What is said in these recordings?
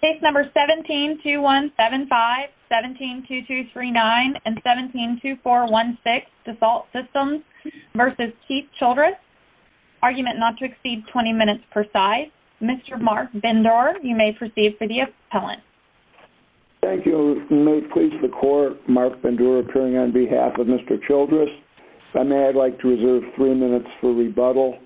Case No. 172175, 172239, and 172416 Dassault Systems v. Keith Childress Argument not to exceed 20 minutes per side. Mr. Mark Bendor, you may proceed for the appellant. Thank you. May it please the Court, Mark Bendor appearing on behalf of Mr. Childress. If I may, I'd like to reserve three minutes for rebuttal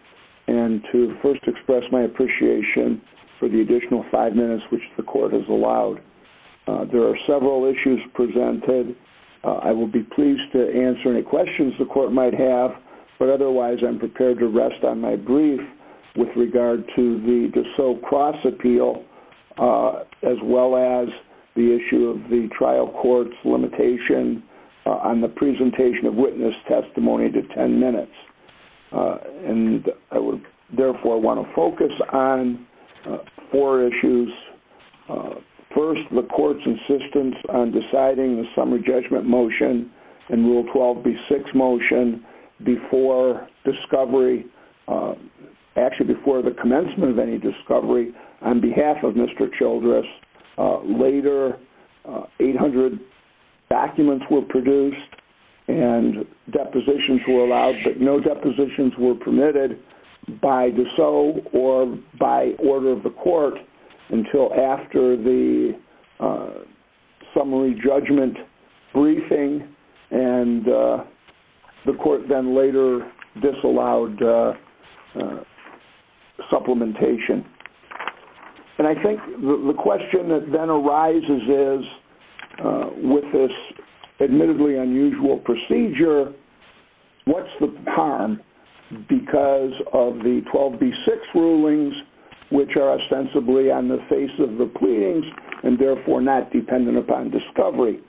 and to first express my appreciation for the additional five minutes which the Court has allowed. There are several issues presented. I will be pleased to answer any questions the Court might have, but otherwise I'm prepared to rest on my brief with regard to the Dassault Cross Appeal, as well as the issue of the trial court's limitation on the presentation of witness testimony to 10 minutes. And I would therefore want to focus on four issues. First, the Court's insistence on deciding the summary judgment motion and Rule 12b6 motion before discovery, actually before the commencement of any discovery, on behalf of Mr. Childress. Later, 800 documents were produced and depositions were allowed, but no depositions were permitted by Dassault or by order of the Court until after the summary judgment briefing, and the Court then later disallowed supplementation. And I think the question that then arises is, with this admittedly unusual procedure, what's the harm because of the 12b6 rulings which are ostensibly on the face of the pleadings and therefore not dependent upon discovery?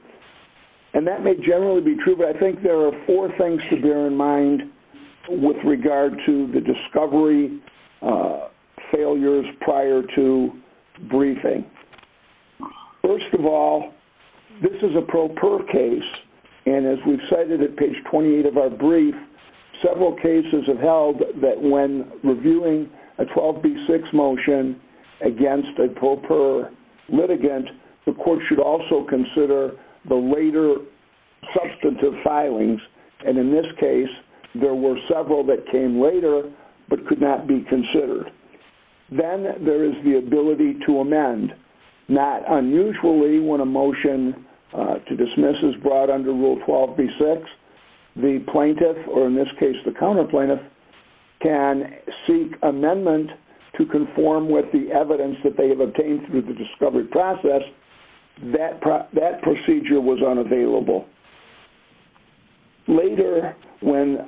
And that may generally be true, but I think there are four things to bear in mind with regard to the discovery failures prior to briefing. First of all, this is a pro per case, and as we've cited at page 28 of our brief, several cases have held that when reviewing a 12b6 motion against a pro per litigant, the Court should also consider the later substantive filings, and in this case, there were several that came later but could not be considered. Then there is the ability to amend. Not unusually, when a motion to dismiss is brought under Rule 12b6, the plaintiff, or in this case the counterplaintiff, can seek amendment to conform with the evidence that they have obtained through the discovery process. That procedure was unavailable. Later, when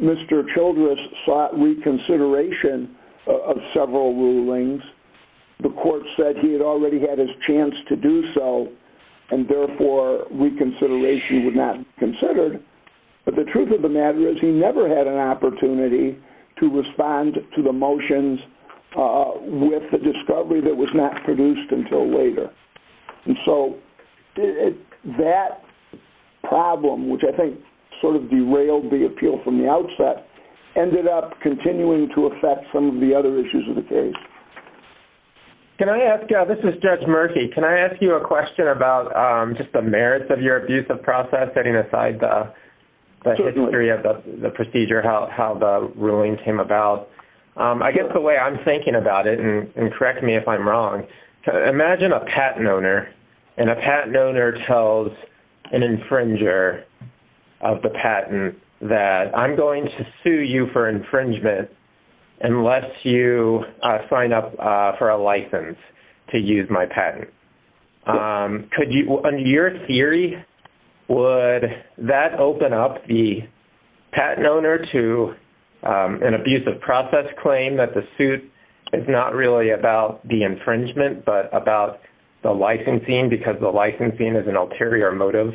Mr. Childress sought reconsideration of several rulings, the Court said he had already had his chance to do so, and therefore reconsideration would not be considered, but the truth of the matter is he never had an opportunity to respond to the motions with the discovery that was not produced until later. So that problem, which I think sort of derailed the appeal from the outset, ended up continuing to affect some of the other issues of the case. This is Judge Murphy. Can I ask you a question about just the merits of your abuse of process, setting aside the history of the procedure, how the ruling came about? I guess the way I'm thinking about it, and correct me if I'm wrong, imagine a patent owner, and a patent owner tells an infringer of the patent that I'm going to sue you for infringement unless you sign up for a license to use my patent. Under your theory, would that open up the patent owner to an abuse of process claim that the suit is not really about the infringement, but about the licensing, because the licensing is an ulterior motive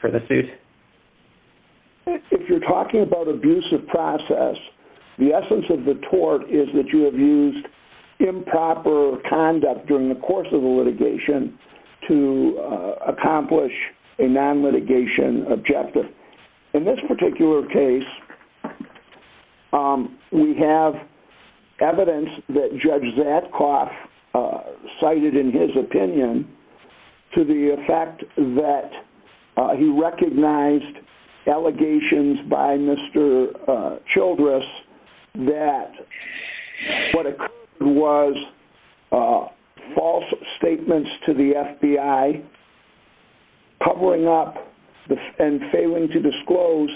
for the suit? If you're talking about abuse of process, the essence of the tort is that you have used improper conduct during the course of the litigation to accomplish a non-litigation objective. In this particular case, we have evidence that Judge Zatkoff cited in his opinion to the effect that he recognized allegations by Mr. Childress that what occurred was false statements to the FBI covering up and failing to disclose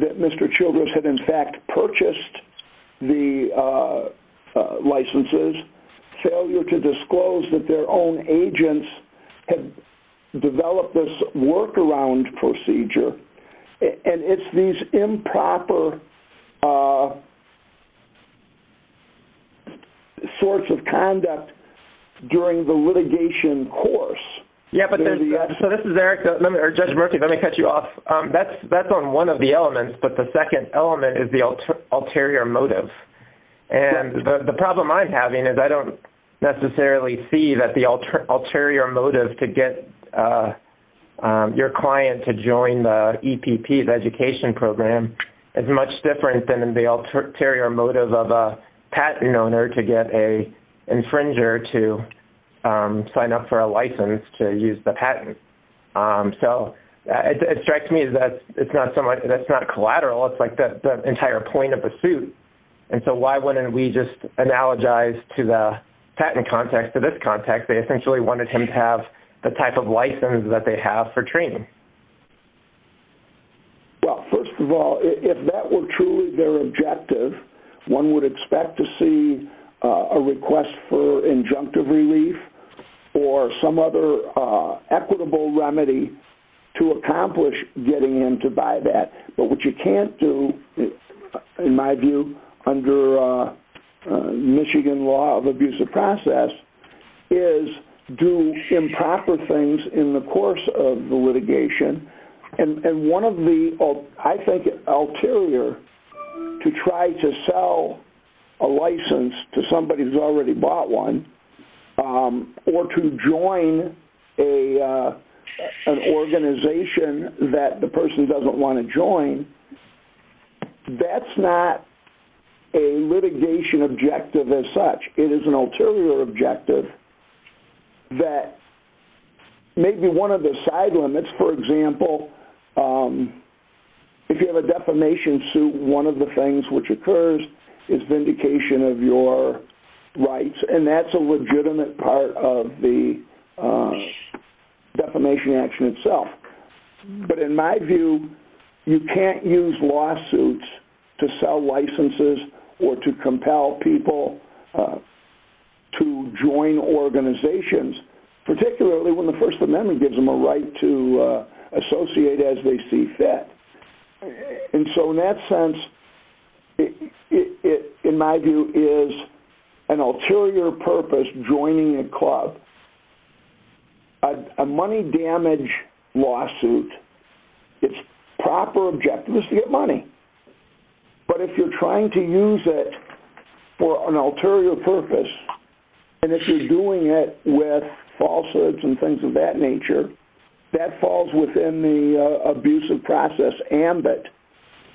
that Mr. Childress had in fact purchased the licenses, failure to disclose that their own agents had developed this workaround procedure, and it's these improper sorts of conduct during the litigation course. So this is Eric, or Judge Murphy, let me cut you off. That's on one of the elements, but the second element is the ulterior motive, and the problem I'm having is I don't necessarily see that the ulterior motive to get your client to join the EPP, the education program, is much different than the ulterior motive of a patent owner to get an infringer to sign up for a license to use the patent. So it strikes me that it's not collateral. It's like the entire point of the suit, and so why wouldn't we just analogize to the patent context, to this context, they essentially wanted him to have the type of license that they have for training? Well, first of all, if that were truly their objective, one would expect to see a request for injunctive relief or some other equitable remedy to accomplish getting him to buy that. But what you can't do, in my view, under Michigan law of abusive process, is do improper things in the course of the litigation, and one of the, I think, ulterior to try to sell a license to somebody who's already bought one or to join an organization that the person doesn't want to join, that's not a litigation objective as such. It is an ulterior objective that maybe one of the side limits, for example, if you have a defamation suit, one of the things which occurs is vindication of your rights, and that's a legitimate part of the defamation action itself. But in my view, you can't use lawsuits to sell licenses or to compel people to join organizations, particularly when the First Amendment gives them a right to associate as they see fit. And so in that sense, it, in my view, is an ulterior purpose joining a club. A money damage lawsuit, its proper objective is to get money. But if you're trying to use it for an ulterior purpose, and if you're doing it with falsehoods and things of that nature, that falls within the abusive process ambit.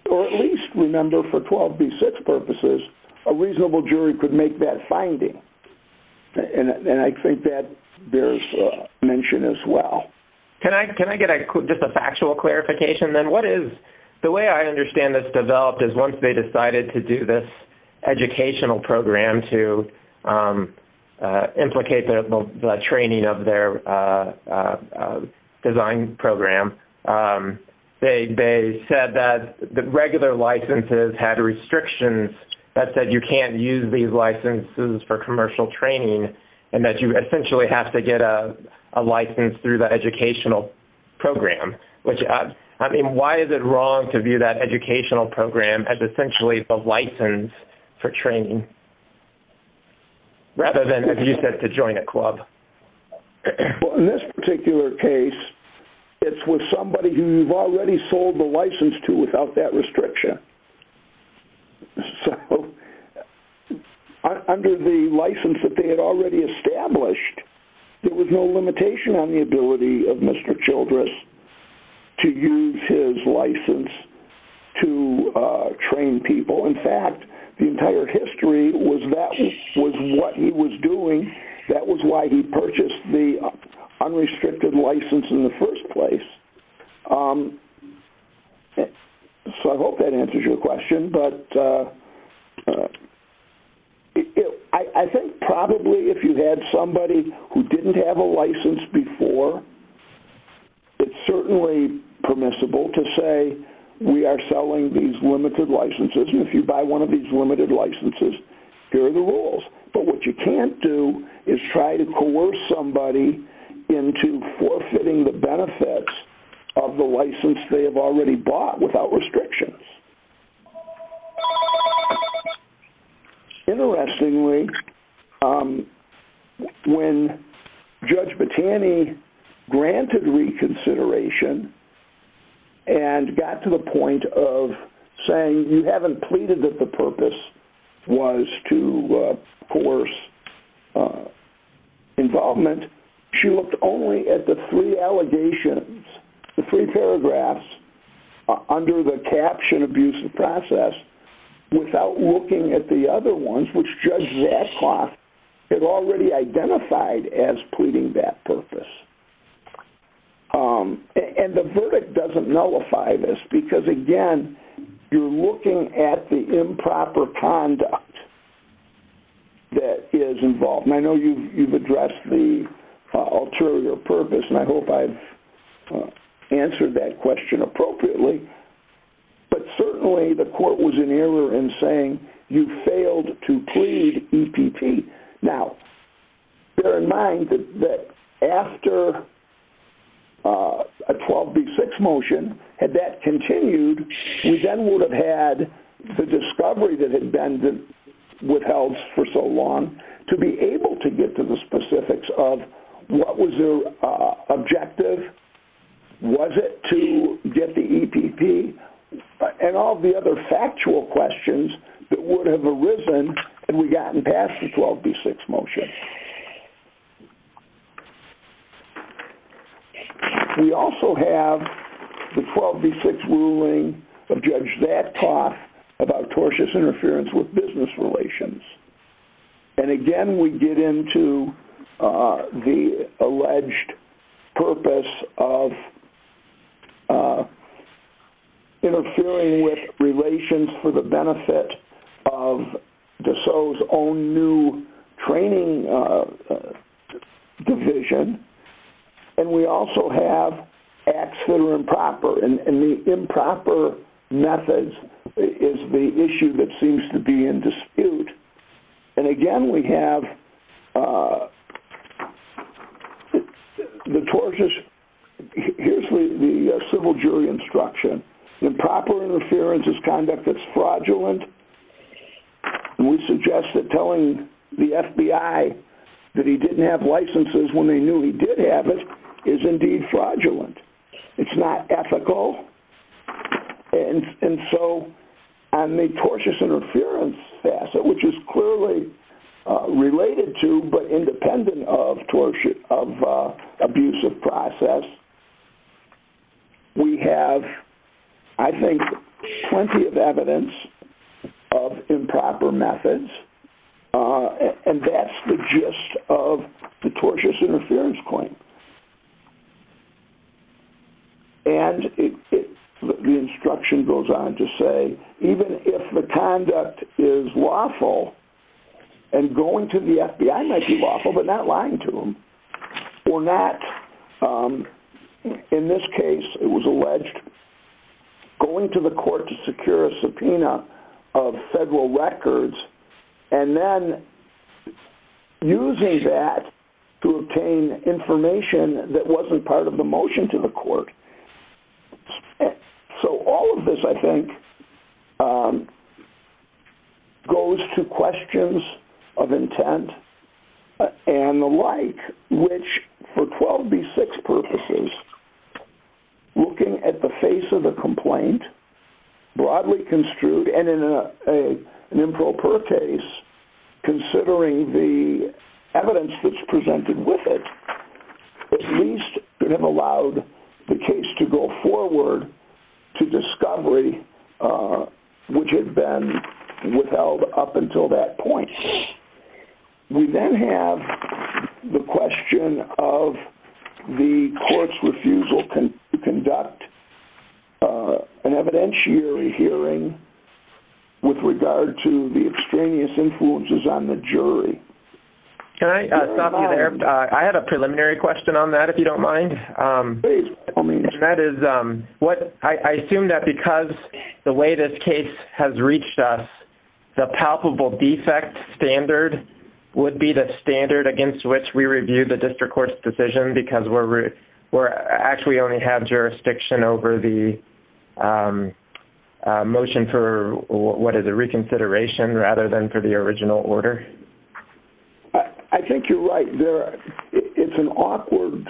Or at least, remember, for 12b6 purposes, a reasonable jury could make that finding, and I think that bears mention as well. Can I get just a factual clarification then? What is, the way I understand this developed is once they decided to do this educational program to implicate the training of their design program, they said that regular licenses had restrictions that said you can't use these licenses for commercial training and that you essentially have to get a license through the educational program. I mean, why is it wrong to view that educational program as essentially the license for training rather than, as you said, to join a club? Well, in this particular case, it's with somebody who you've already sold the license to without that restriction. So under the license that they had already established, there was no limitation on the ability of Mr. Childress to use his license to train people. In fact, the entire history was that was what he was doing. That was why he purchased the unrestricted license in the first place. So I hope that answers your question. But I think probably if you had somebody who didn't have a license before, it's certainly permissible to say we are selling these limited licenses and if you buy one of these limited licenses, here are the rules. But what you can't do is try to coerce somebody into forfeiting the benefits of the license they have already bought without restrictions. Interestingly, when Judge Battani granted reconsideration and got to the point of saying you haven't pleaded that the purpose was to coerce involvement, she looked only at the three allegations, the three paragraphs, under the caption abuse of process without looking at the other ones, which Judge Zachoff had already identified as pleading that purpose. And the verdict doesn't nullify this because, again, you're looking at the improper conduct that is involved. And I know you've addressed the ulterior purpose, and I hope I've answered that question appropriately. But certainly the court was in error in saying you failed to plead EPP. Now, bear in mind that after a 12B6 motion, had that continued, we then would have had the discovery that had been withheld for so long to be able to get to the specifics of what was their objective, was it to get the EPP, and all the other factual questions that would have arisen had we gotten past the 12B6 motion. We also have the 12B6 ruling of Judge Zachoff about tortious interference with business relations. And, again, we get into the alleged purpose of interfering with relations for the benefit of DeSoto's own new training division. And we also have acts that are improper. And the improper methods is the issue that seems to be in dispute. And, again, we have the tortious... Here's the civil jury instruction. Improper interference is conduct that's fraudulent. And we suggest that telling the FBI that he didn't have licenses when they knew he did have it is indeed fraudulent. It's not ethical. And so on the tortious interference facet, which is clearly related to but independent of abusive process, we have, I think, plenty of evidence of improper methods. And that's the gist of the tortious interference claim. And the instruction goes on to say, even if the conduct is lawful, and going to the FBI might be lawful, but not lying to them, or not, in this case, it was alleged, going to the court to secure a subpoena of federal records and then using that to obtain information that wasn't part of the motion to the court. So all of this, I think, goes to questions of intent and the like, which, for 12b-6 purposes, looking at the face of the complaint, broadly construed, and in an improper case, considering the evidence that's presented with it, at least could have allowed the case to go forward to discovery, which had been withheld up until that point. We then have the question of the court's refusal to conduct an evidentiary hearing with regard to the extraneous influences on the jury. Can I stop you there? I have a preliminary question on that, if you don't mind. I assume that because the way this case has reached us, the palpable defect standard would be the standard against which we review the district court's decision, because we actually only have jurisdiction over the motion for, what is it, reconsideration, rather than for the original order? I think you're right. It's an awkward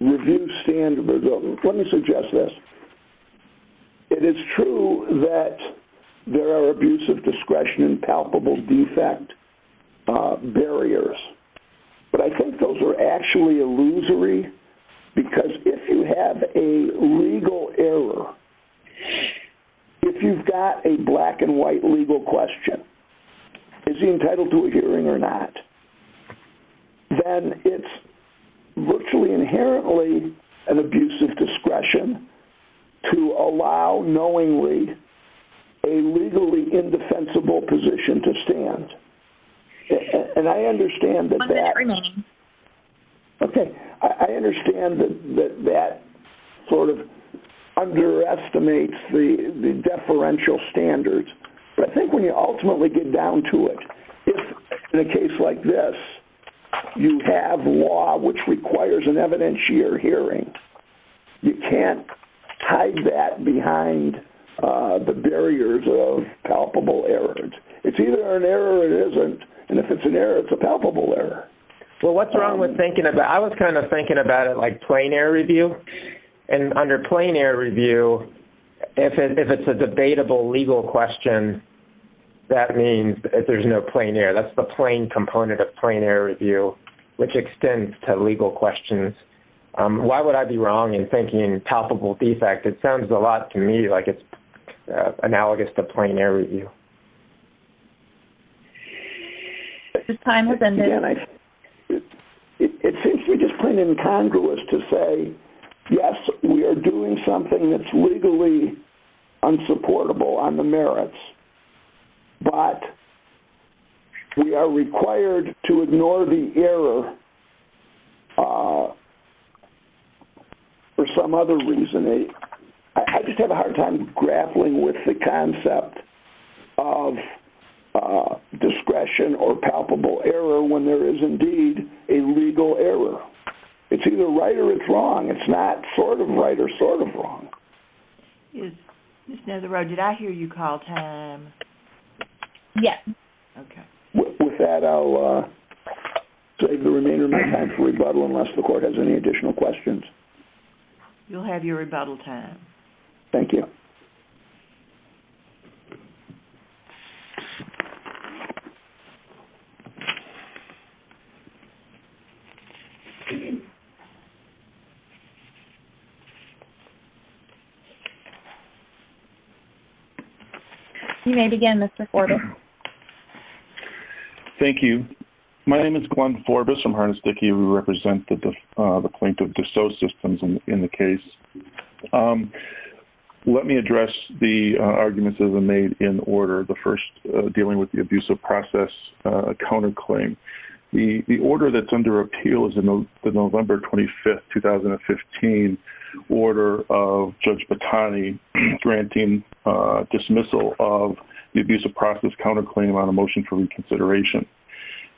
review standard. Let me suggest this. It is true that there are abusive discretion and palpable defect barriers, but I think those are actually illusory, because if you have a legal error, if you've got a black-and-white legal question, is he entitled to a hearing or not, then it's virtually inherently an abusive discretion to allow knowingly a legally indefensible position to stand. I understand that that sort of underestimates the deferential standards, but I think when you ultimately get down to it, if in a case like this you have law which requires an evidentiary hearing, you can't hide that behind the barriers of palpable errors. It's either an error or it isn't, and if it's an error, it's a palpable error. I was kind of thinking about it like plain error review, and under plain error review, if it's a debatable legal question, that means there's no plain error. That's the plain component of plain error review, which extends to legal questions. Why would I be wrong in thinking palpable defect? It sounds a lot to me like it's analogous to plain error review. The time has ended. It seems to me just plain incongruous to say, yes, we are doing something that's legally unsupportable on the merits, but we are required to ignore the error for some other reason. I just have a hard time grappling with the concept of discretion or palpable error when there is indeed a legal error. It's either right or it's wrong. It's not sort of right or sort of wrong. Ms. Netheroad, did I hear you call time? Yes. With that, I'll save the remainder of my time for rebuttal unless the court has any additional questions. You'll have your rebuttal time. Thank you. You may begin, Mr. Forbis. Thank you. My name is Glenn Forbis from Harness Dickey. We represent the plaintiff D'Souza Systems in the case. Let me address the arguments that have been made in order. The plaintiff, D'Souza Systems, is a plaintiff. The order that's under appeal is the November 25, 2015, order of Judge Batani granting dismissal of the abuse of process counterclaim on a motion for reconsideration.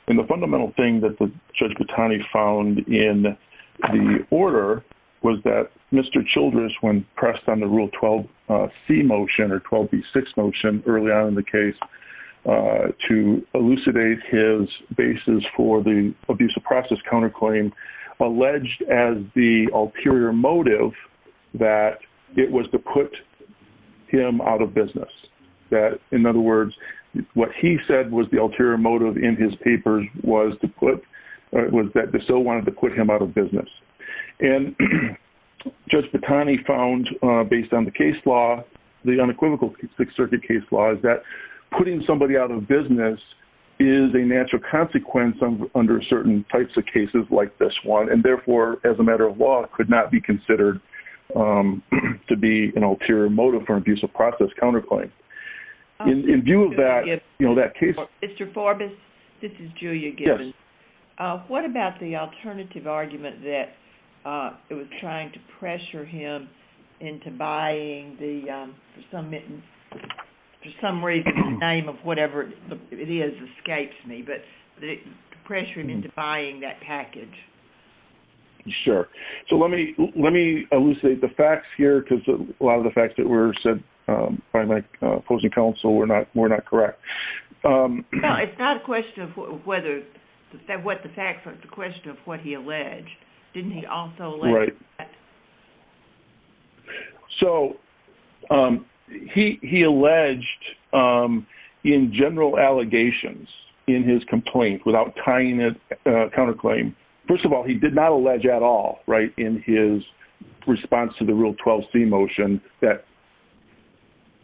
The fundamental thing that Judge Batani found in the order was that Mr. Childress, when pressed on the Rule 12C motion or 12B6 motion early on in the case, to elucidate his basis for the abuse of process counterclaim, alleged as the ulterior motive that it was to put him out of business. In other words, what he said was the ulterior motive in his papers was that D'Souza wanted to put him out of business. And Judge Batani found, based on the case law, the unequivocal Sixth Circuit case law, is that putting somebody out of business is a natural consequence under certain types of cases like this one. And therefore, as a matter of law, it could not be considered to be an ulterior motive for an abuse of process counterclaim. In view of that, that case... Mr. Forbus, this is Julia Gibbons. What about the alternative argument that it was trying to pressure him into buying the, for some reason, the name of whatever it is escapes me, but pressuring him into buying that package? Sure. So let me elucidate the facts here because a lot of the facts that were said by my opposing counsel were not correct. No, it's not a question of what the facts are. It's a question of what he alleged. Didn't he also allege that? Right. So he alleged in general allegations in his complaint without tying it to a counterclaim. First of all, he did not allege at all, right, in his response to the Rule 12c motion that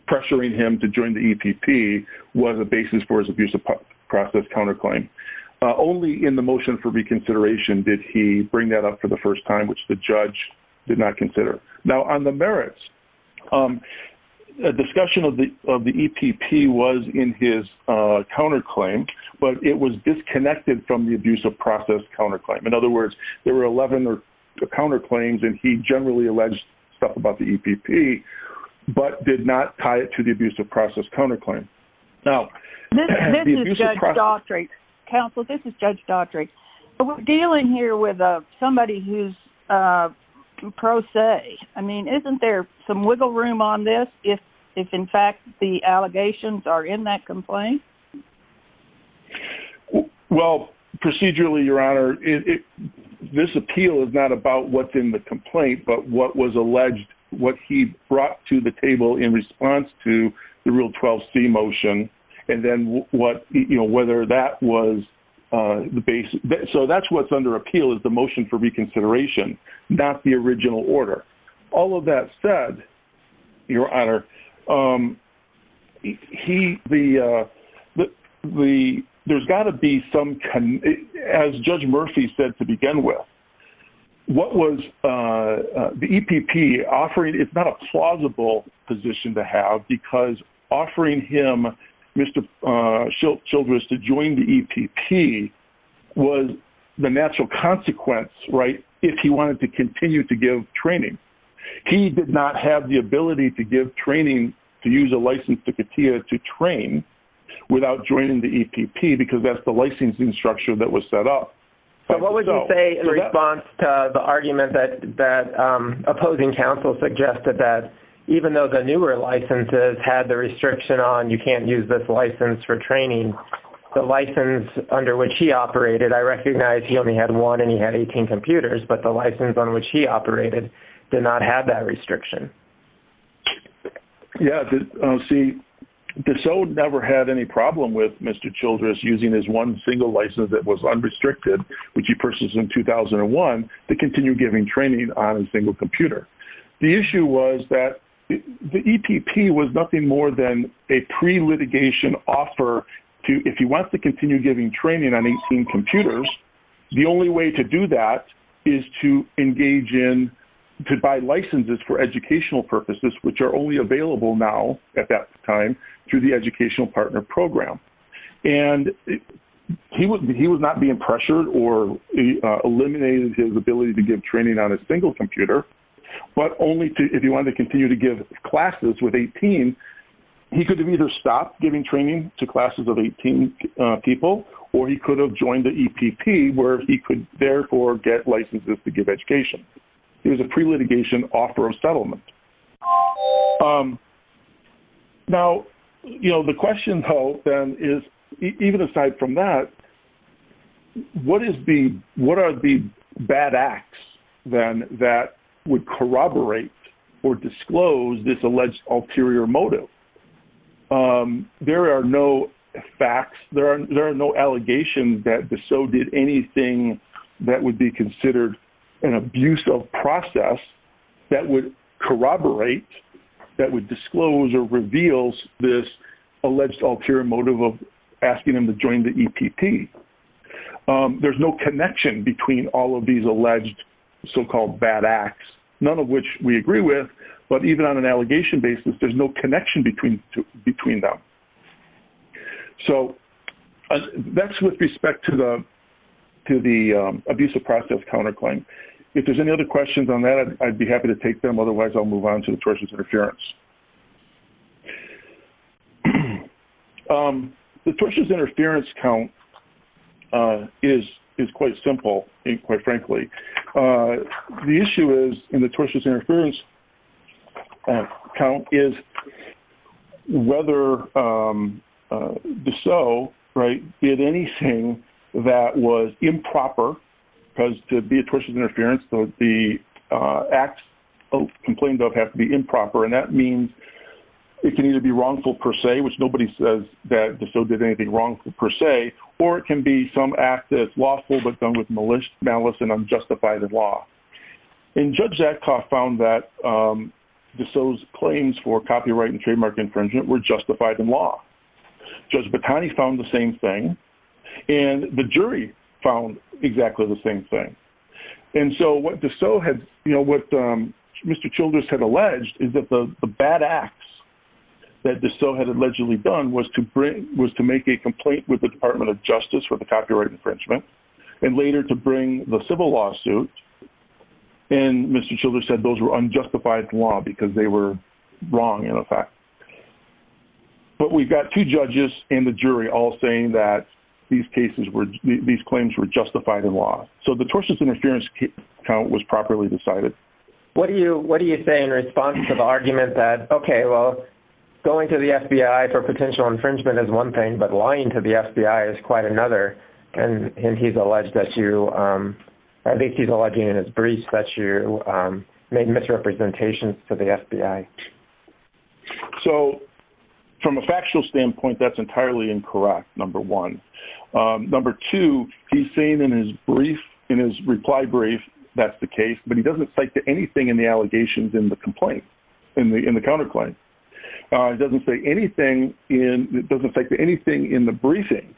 pressuring him to join the EPP was a basis for his abuse of process counterclaim. Only in the motion for reconsideration did he bring that up for the first time, which the judge did not consider. Now, on the merits, the discussion of the EPP was in his counterclaim, but it was disconnected from the abuse of process counterclaim. In other words, there were 11 counterclaims and he generally alleged stuff about the EPP, but did not tie it to the abuse of process counterclaim. Now... This is Judge Daughtry. Counsel, this is Judge Daughtry. I'm here with somebody who's pro se. I mean, isn't there some wiggle room on this if, in fact, the allegations are in that complaint? Well, procedurally, Your Honor, this appeal is not about what's in the complaint, but what was alleged, what he brought to the table in response to the Rule 12c motion, and then whether that was the basis. So that's what's under appeal, is the motion for reconsideration, not the original order. All of that said, Your Honor, there's got to be some... As Judge Murphy said to begin with, what was the EPP offering? It's not a plausible position to have because offering him children to join the EPP was the natural consequence, right, if he wanted to continue to give training. He did not have the ability to give training to use a license to CATIA to train without joining the EPP because that's the licensing structure that was set up. So what would you say in response to the argument that opposing counsel suggested that even though the newer licenses had the restriction on you can't use this license for training, the license under which he operated, I recognize he only had one and he had 18 computers, but the license on which he operated did not have that restriction? Yeah. See, DeSoto never had any problem with Mr. Childress using his one single license that was unrestricted, which he purchased in 2001, to continue giving training on a single computer. The issue was that the EPP was nothing more than a pre-litigation offer that if he wants to continue giving training on 18 computers, the only way to do that is to engage in, to buy licenses for educational purposes, which are only available now at that time through the Educational Partner Program. And he was not being pressured or eliminated his ability to give training on a single computer, but only if he wanted to continue to give classes with 18, he could have either stopped giving training to classes of 18 people, or he could have joined the EPP where he could therefore get licenses to give education. It was a pre-litigation offer of settlement. Now, you know, the question, though, then is, even aside from that, what are the bad acts, then, that would corroborate or disclose this alleged ulterior motive? There are no facts, there are no allegations that DeSoto did anything that would be considered an abuse of process that would corroborate, that would disclose or reveal this alleged ulterior motive of asking him to join the EPP. There's no connection between all of these alleged so-called bad acts, none of which we agree with, but even on an allegation basis, there's no connection between them. So, that's with respect to the abuse of process counterclaim. If there's any other questions on that, I'd be happy to take them, otherwise I'll move on to the tortious interference. The tortious interference count is quite simple, quite frankly. The issue is, in the tortious interference count, is whether DeSoto did anything that was improper, because to be a tortious interference, the acts complained of have to be improper, and that means it can either be wrongful per se, which nobody says that DeSoto did anything wrongful per se, or it can be some act that's lawful but done with malice and unjustified law. And Judge Zatkoff found that DeSoto's claims for copyright and trademark infringement were justified in law. Judge Batani found the same thing, and the jury found exactly the same thing. And so, what DeSoto had, what Mr. Childress had alleged is that the bad acts that DeSoto had allegedly done was to make a complaint with the Department of Justice for the copyright infringement, and later to bring the civil lawsuit, and Mr. Childress said that they were wrong in effect. But we've got two judges in the jury all saying that these claims were justified in law. So the tortious interference was properly decided. What do you say in response to the argument that, okay, well, going to the FBI for potential infringement is one thing, but lying to the FBI is quite another, and he's alleged that you, I think he's alleging in his brief that you made misrepresentations to the FBI. So, from a factual standpoint, that's entirely incorrect, number one. Number two, he's saying in his brief, in his reply brief, that's the case, but he doesn't cite to anything in the allegations in the complaint, in the counterclaim. He doesn't say anything in, doesn't cite to anything in the briefing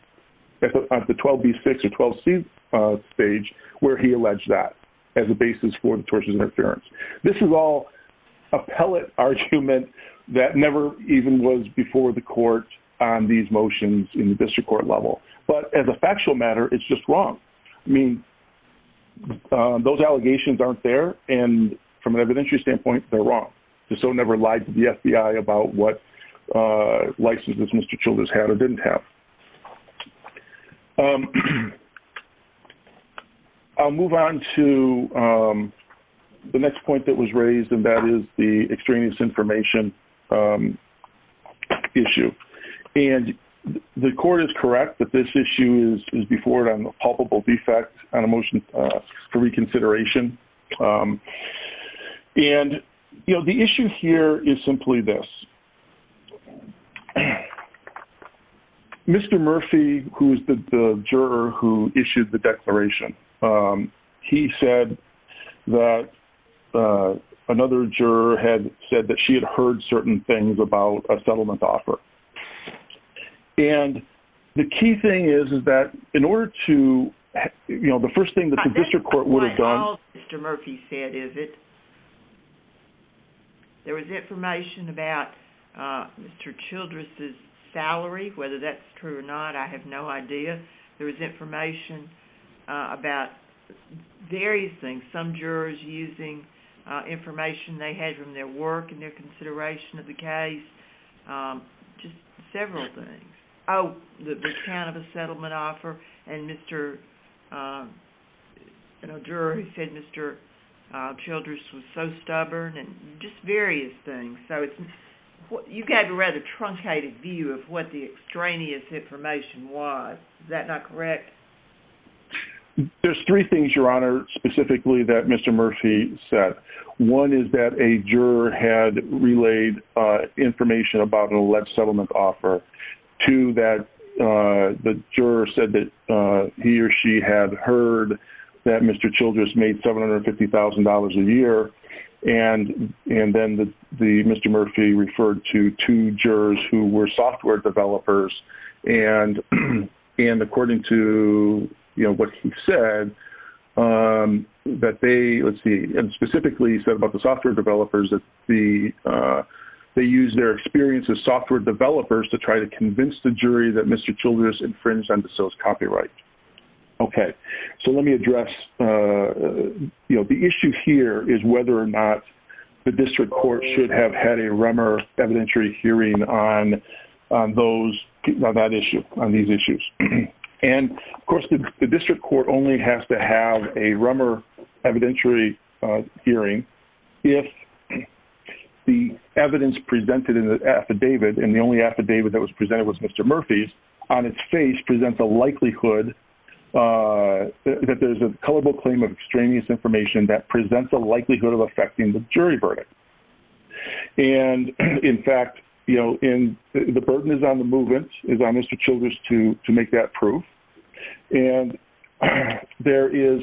at the 12B6 or 12C stage where he alleged that as a basis for the tortious interference. This is all a pellet argument that never even was before the court on these motions in the district court level. But as a factual matter, it's just wrong. I mean, those allegations aren't there, and from an evidentiary standpoint, they're wrong. DeSoto never lied to the FBI about what licenses Mr. Childress had or didn't have. I'll move on to the next point that was raised, and that is the extraneous information issue. And the court is correct that this issue is before it on a palpable defect on a motion for reconsideration. And the issue here Mr. Murphy, who's the juror who issued the declaration, he said that another juror had said that she had heard certain things about a settlement offer. And the key thing is is that in order to, you know, the first thing that the district court would have done... That's not what all Mr. Murphy said, is it? There was information about Mr. Childress's salary. Whether that's true or not, I have no idea. There was information about various things. Some jurors using information they had from their work and their consideration of the case. Just several things. Oh, the account of a settlement offer and Mr., you know, juror who said Mr. Childress was so stubborn and just various things. So it's... You gave a rather truncated view of what the extraneous information was. Is that not correct? There's three things, Your Honor, specifically that Mr. Murphy said. One is that a juror had relayed information about an alleged settlement offer. Two, that the juror said that he or she had heard that Mr. Childress made $750,000 a year. And then the Mr. Murphy referred to two jurors who were software developers. And according to, you know, what he said, that they, let's see, and specifically he said about the software developers, that they used their experience as software developers to try to convince the jury that Mr. Childress infringed on the sales copyright. Okay. So let me address, you know, the issue here is whether or not the district court should have had a Rummer evidentiary hearing on those, on that issue, on these issues. And, of course, the district court only has to have a Rummer evidentiary hearing if the evidence presented in the affidavit, and the only affidavit that was presented was Mr. Murphy's, on its face presents a likelihood that there's a culpable claim of extraneous information that presents a likelihood of affecting the jury verdict. And, in fact, you know, the burden is on the movement, is on Mr. Childress to make that proof. And there is,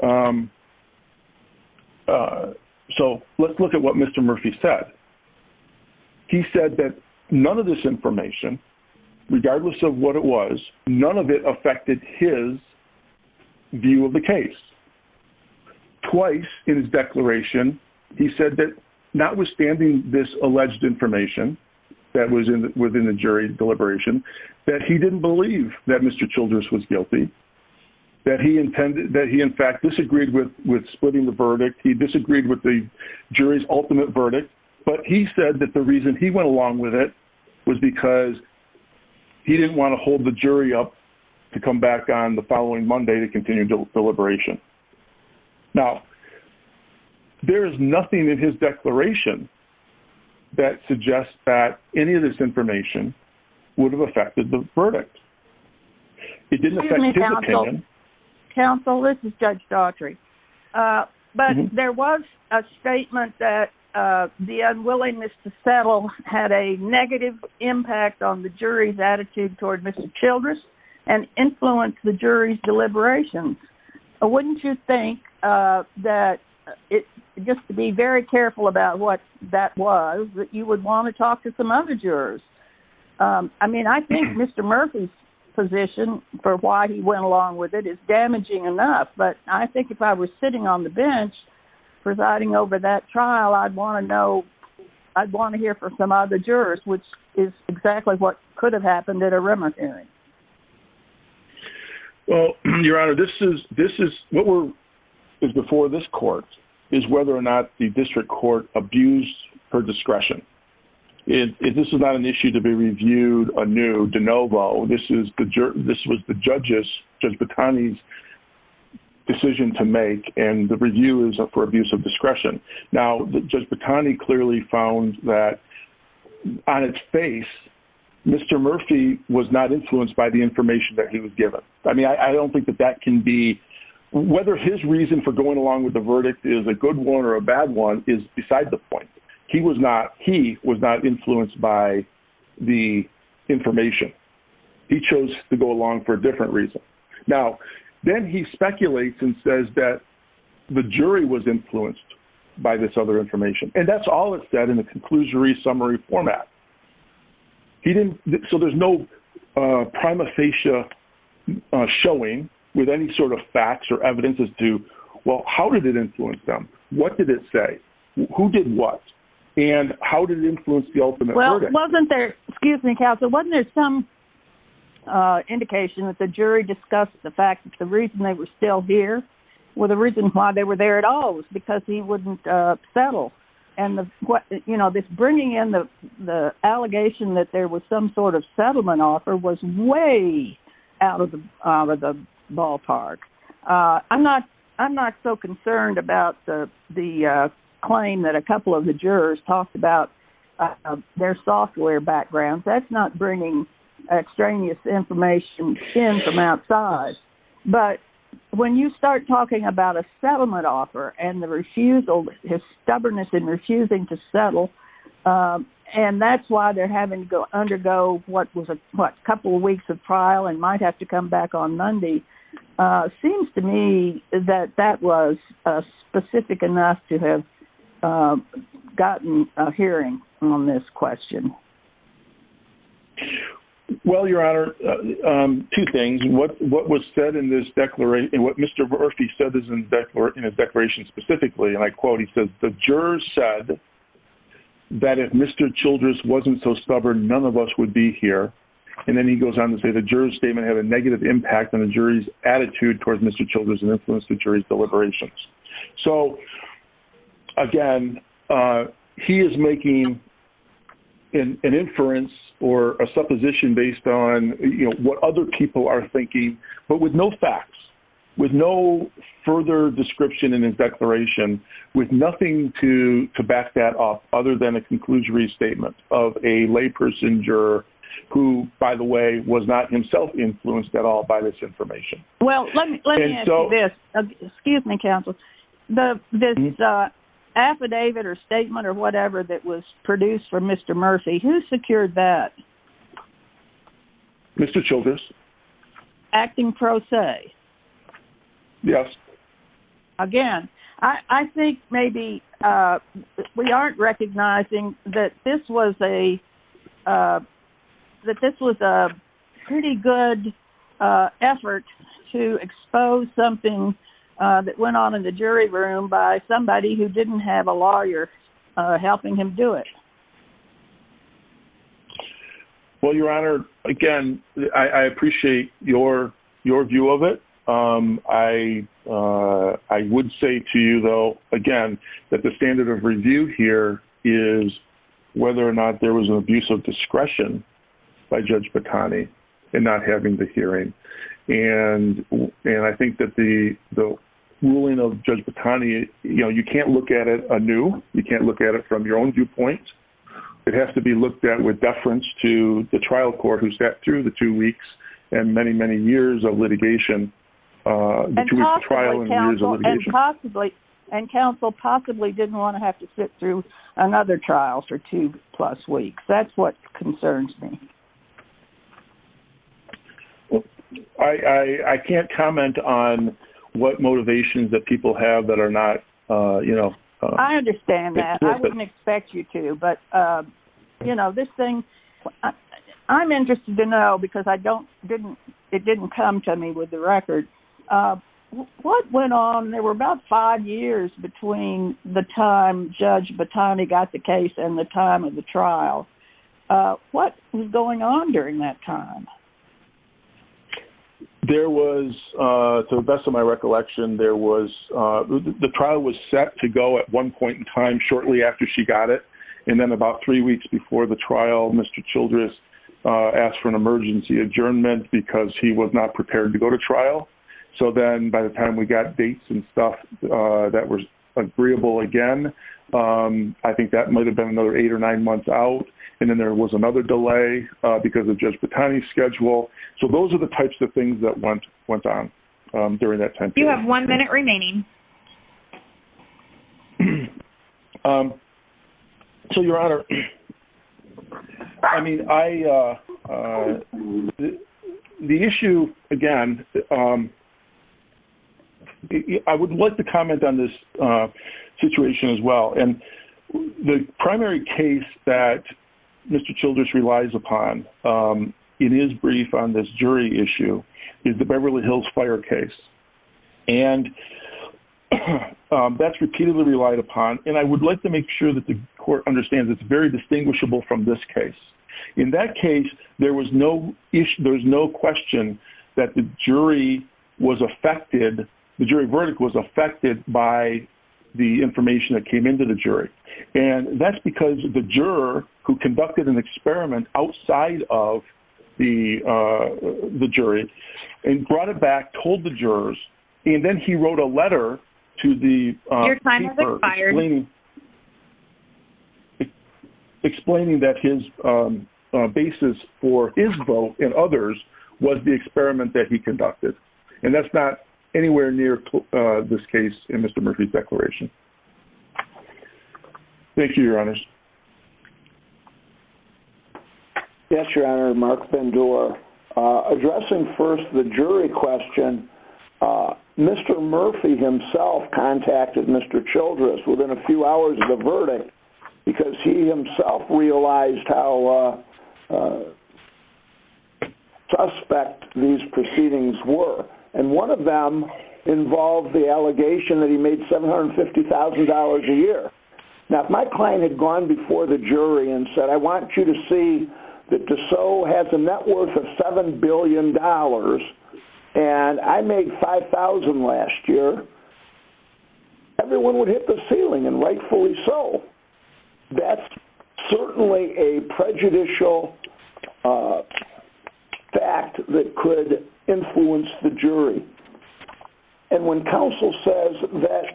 so let's look at what Mr. Murphy said. He said that none of this information, regardless of what it was, none of it affected his view of the case. Twice in his declaration, he said that notwithstanding this alleged information that was within the jury deliberation, that he didn't believe that Mr. Childress was guilty, that he intended, that he, in fact, disagreed with splitting the verdict. He disagreed with the jury's ultimate verdict, but he said that the reason he went along with it was because he didn't want to hold the jury up to come back on the following Monday to continue deliberation. Now, there is nothing in his declaration that suggests that any of this information would have affected the verdict. It didn't affect his opinion. Excuse me, counsel. Counsel, this is Judge Daughtry. But there was a statement that the unwillingness to settle had a negative impact on the jury's attitude toward Mr. Childress and influenced the jury's deliberation. Wouldn't you think that, just to be very careful about what that was, that you would want to talk to some other jurors? I mean, I think Mr. Murphy's position for why he went along with it is damaging enough. But I think if I was sitting on the bench presiding over that trial, I'd want to know, I'd want to hear from some other jurors, which is exactly what could have happened at a remand hearing. Well, Your Honor, this is, what is before this court is whether or not the district court abused her discretion. This is not an issue to be reviewed anew de novo. This was the judge's, Judge Botani's, decision to make, and the review is for abuse of discretion. Now, Judge Botani clearly found that on its face, Mr. Murphy was not influenced by the information that he was given. I mean, I don't think that that can be, whether his reason for going along with the verdict is a good one or a bad one is beside the point. He was not, he was not influenced by the information. He chose to go along for a different reason. Now, then he speculates and says that the jury was influenced by this other information. And that's all it said in the conclusionary summary format. He didn't, so there's no prima facie showing with any sort of facts or evidence as to, well, how did it influence them? What did it say? Who did what? And how did it influence the ultimate verdict? Well, wasn't there, excuse me counsel, wasn't there some indication that the jury discussed the fact that the reason they were still here was the reason why was because he wouldn't settle. And the, you know, this bringing in the, the allegation that there was some sort of settlement offer was way out of the, out of the ballpark. I'm not, I'm not so concerned about the, the claim that a couple of the jurors talked about their software backgrounds. That's not bringing extraneous information in from outside. But when you start talking about a settlement offer and the refusal, his stubbornness in refusing to settle, and that's why they're having to undergo what was a couple of weeks of trial and might have to come back on Monday. Seems to me that that was specific enough to have gotten a hearing on this question. Well, your Honor, two things. What, what was said in this declaration, what Mr. Murphy said is in his declaration specifically, and I quote, he says, the jurors said that if Mr. Childress wasn't so stubborn, none of us would be here. And then he goes on to say the jurors statement had a negative impact on the jury's attitude towards Mr. Childress and influenced the jury's deliberations. So, again, he is making an inference or a supposition based on, you know, what other people are thinking, but with no facts, with no further description in his declaration, with nothing to, to back that up other than a conclusionary statement of a lay person juror who, by the way, was not himself influenced at all by this information. Well, let me, let me ask you this. Excuse me, counsel. The, this affidavit or statement or whatever that was produced for Mr. Murphy, who secured that? Mr. Childress. Acting pro se. Yes. Again, I, I think maybe we aren't recognizing that this was a, that this was a pretty good effort to expose something that went on in the jury room by somebody who didn't have a lawyer helping him do it. Well, Your Honor, again, I, I appreciate your, your view of it. I, I would say to you, though, again, that the standard of review here is whether or not there was an abusive discretion by Judge Batani in not having the hearing. And, and I think that the, the ruling of Judge Batani, you know, you can't look at it anew. You can't look at it It has to be looked at with deference to the trial court who sat through the two weeks and many, many years of litigation between trial and years of litigation. And possibly, and counsel possibly didn't want to have to sit through another trial for two plus weeks. That's what concerns me. Well, I, I can't comment on what motivations that people have that are not, you know, explicit. I understand that. I wouldn't expect you to. But, you know, this thing, I'm interested to know because I don't, didn't, it didn't come to me with the record. What went on when there were about five years between the time Judge Batani got the case and the time of the trial. What was going on during that time? There was, to the best of my recollection, there was, the trial was set to go at one point in time shortly after she got it. And then about three weeks before the trial, Mr. Childress asked for an emergency adjournment because he was not prepared to go to trial. So then, by the time we got dates and stuff that was agreeable again, I think that might have been another eight or nine months out. And then there was another delay because of Judge Batani's schedule. So those are the types of things that went, went on during that time period. You have one minute remaining. So, Your Honor, I mean, I, the issue, again, I would like to comment on this situation as well. And the primary case that Mr. Childress relies upon in his brief on this jury issue is the Beverly Hills Fire case. And that's repeatedly relied upon. And I would like to make sure that the court understands it's very distinguishable from this case. In that case, there was no issue, there was no question that the jury was affected, the jury verdict was affected by the information that came into the jury. And that's because the juror who conducted an experiment outside of the jury and brought it back, told the jurors, and then he wrote a letter to the juror explaining that his basis for his vote in others was the experiment that he conducted. And that's not anywhere near this case in Mr. Murphy's declaration. Thank you, your honors. Yes, your honor, Mark Bendor. Addressing first the jury question, Mr. Murphy himself contacted Mr. Childress within a week. He himself realized how suspect these proceedings were. And one of them involved the allegation that he made $750,000 a year. Now, if my client had gone before the jury and said, I want you to see that DeSot has a net worth of $7 billion and I want you to very important investment in the jury. And when counsel says that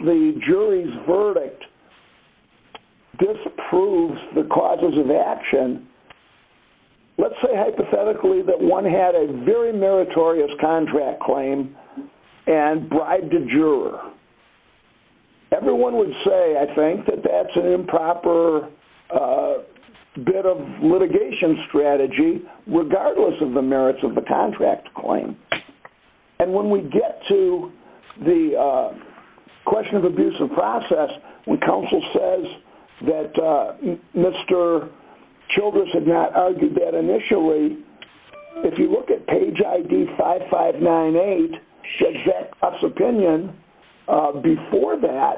the jury's verdict disapproves the causes of action, let's say hypothetically that one had a very meritorious contract claim and bribed a juror. Everyone would say, I think, that that's an improper bit of litigation strategy regardless of the merits of the contract claim. And when we get to the question of abuse of process, when counsel says that Mr. Childress had not argued that initially, if you look at page I.D. 5598, Shajak's opinion before that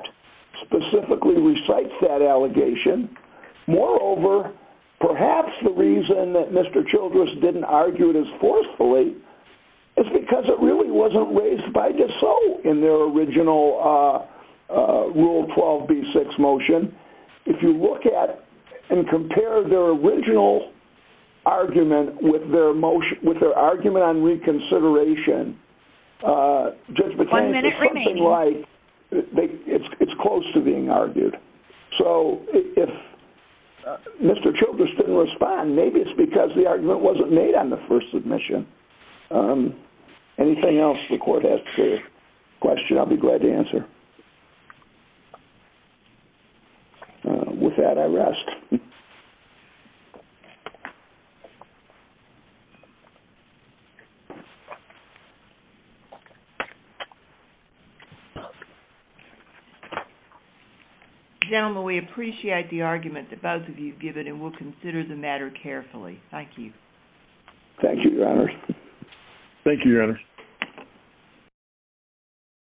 specifically recites that allegation. Moreover, perhaps the reason that Mr. Childress didn't argue it as forcefully is because it really wasn't raised by DeSoto in their original Rule 12 B6 motion. If you look at and compare their original argument with their motion with their argument on reconsideration, Judge McCain, it's something like it's close to being argued. So if Mr. Childress didn't respond, maybe it's because the argument wasn't made on the first submission. Anything else the court has for your question, I'll be glad to answer. With that, I rest. Thank you. we have the time for a few questions. The gentleman, we appreciate the argument that both of you have given, and we'll consider the matter carefully. Thank you. Thank you, Your Honor. Thank you, Your Honor.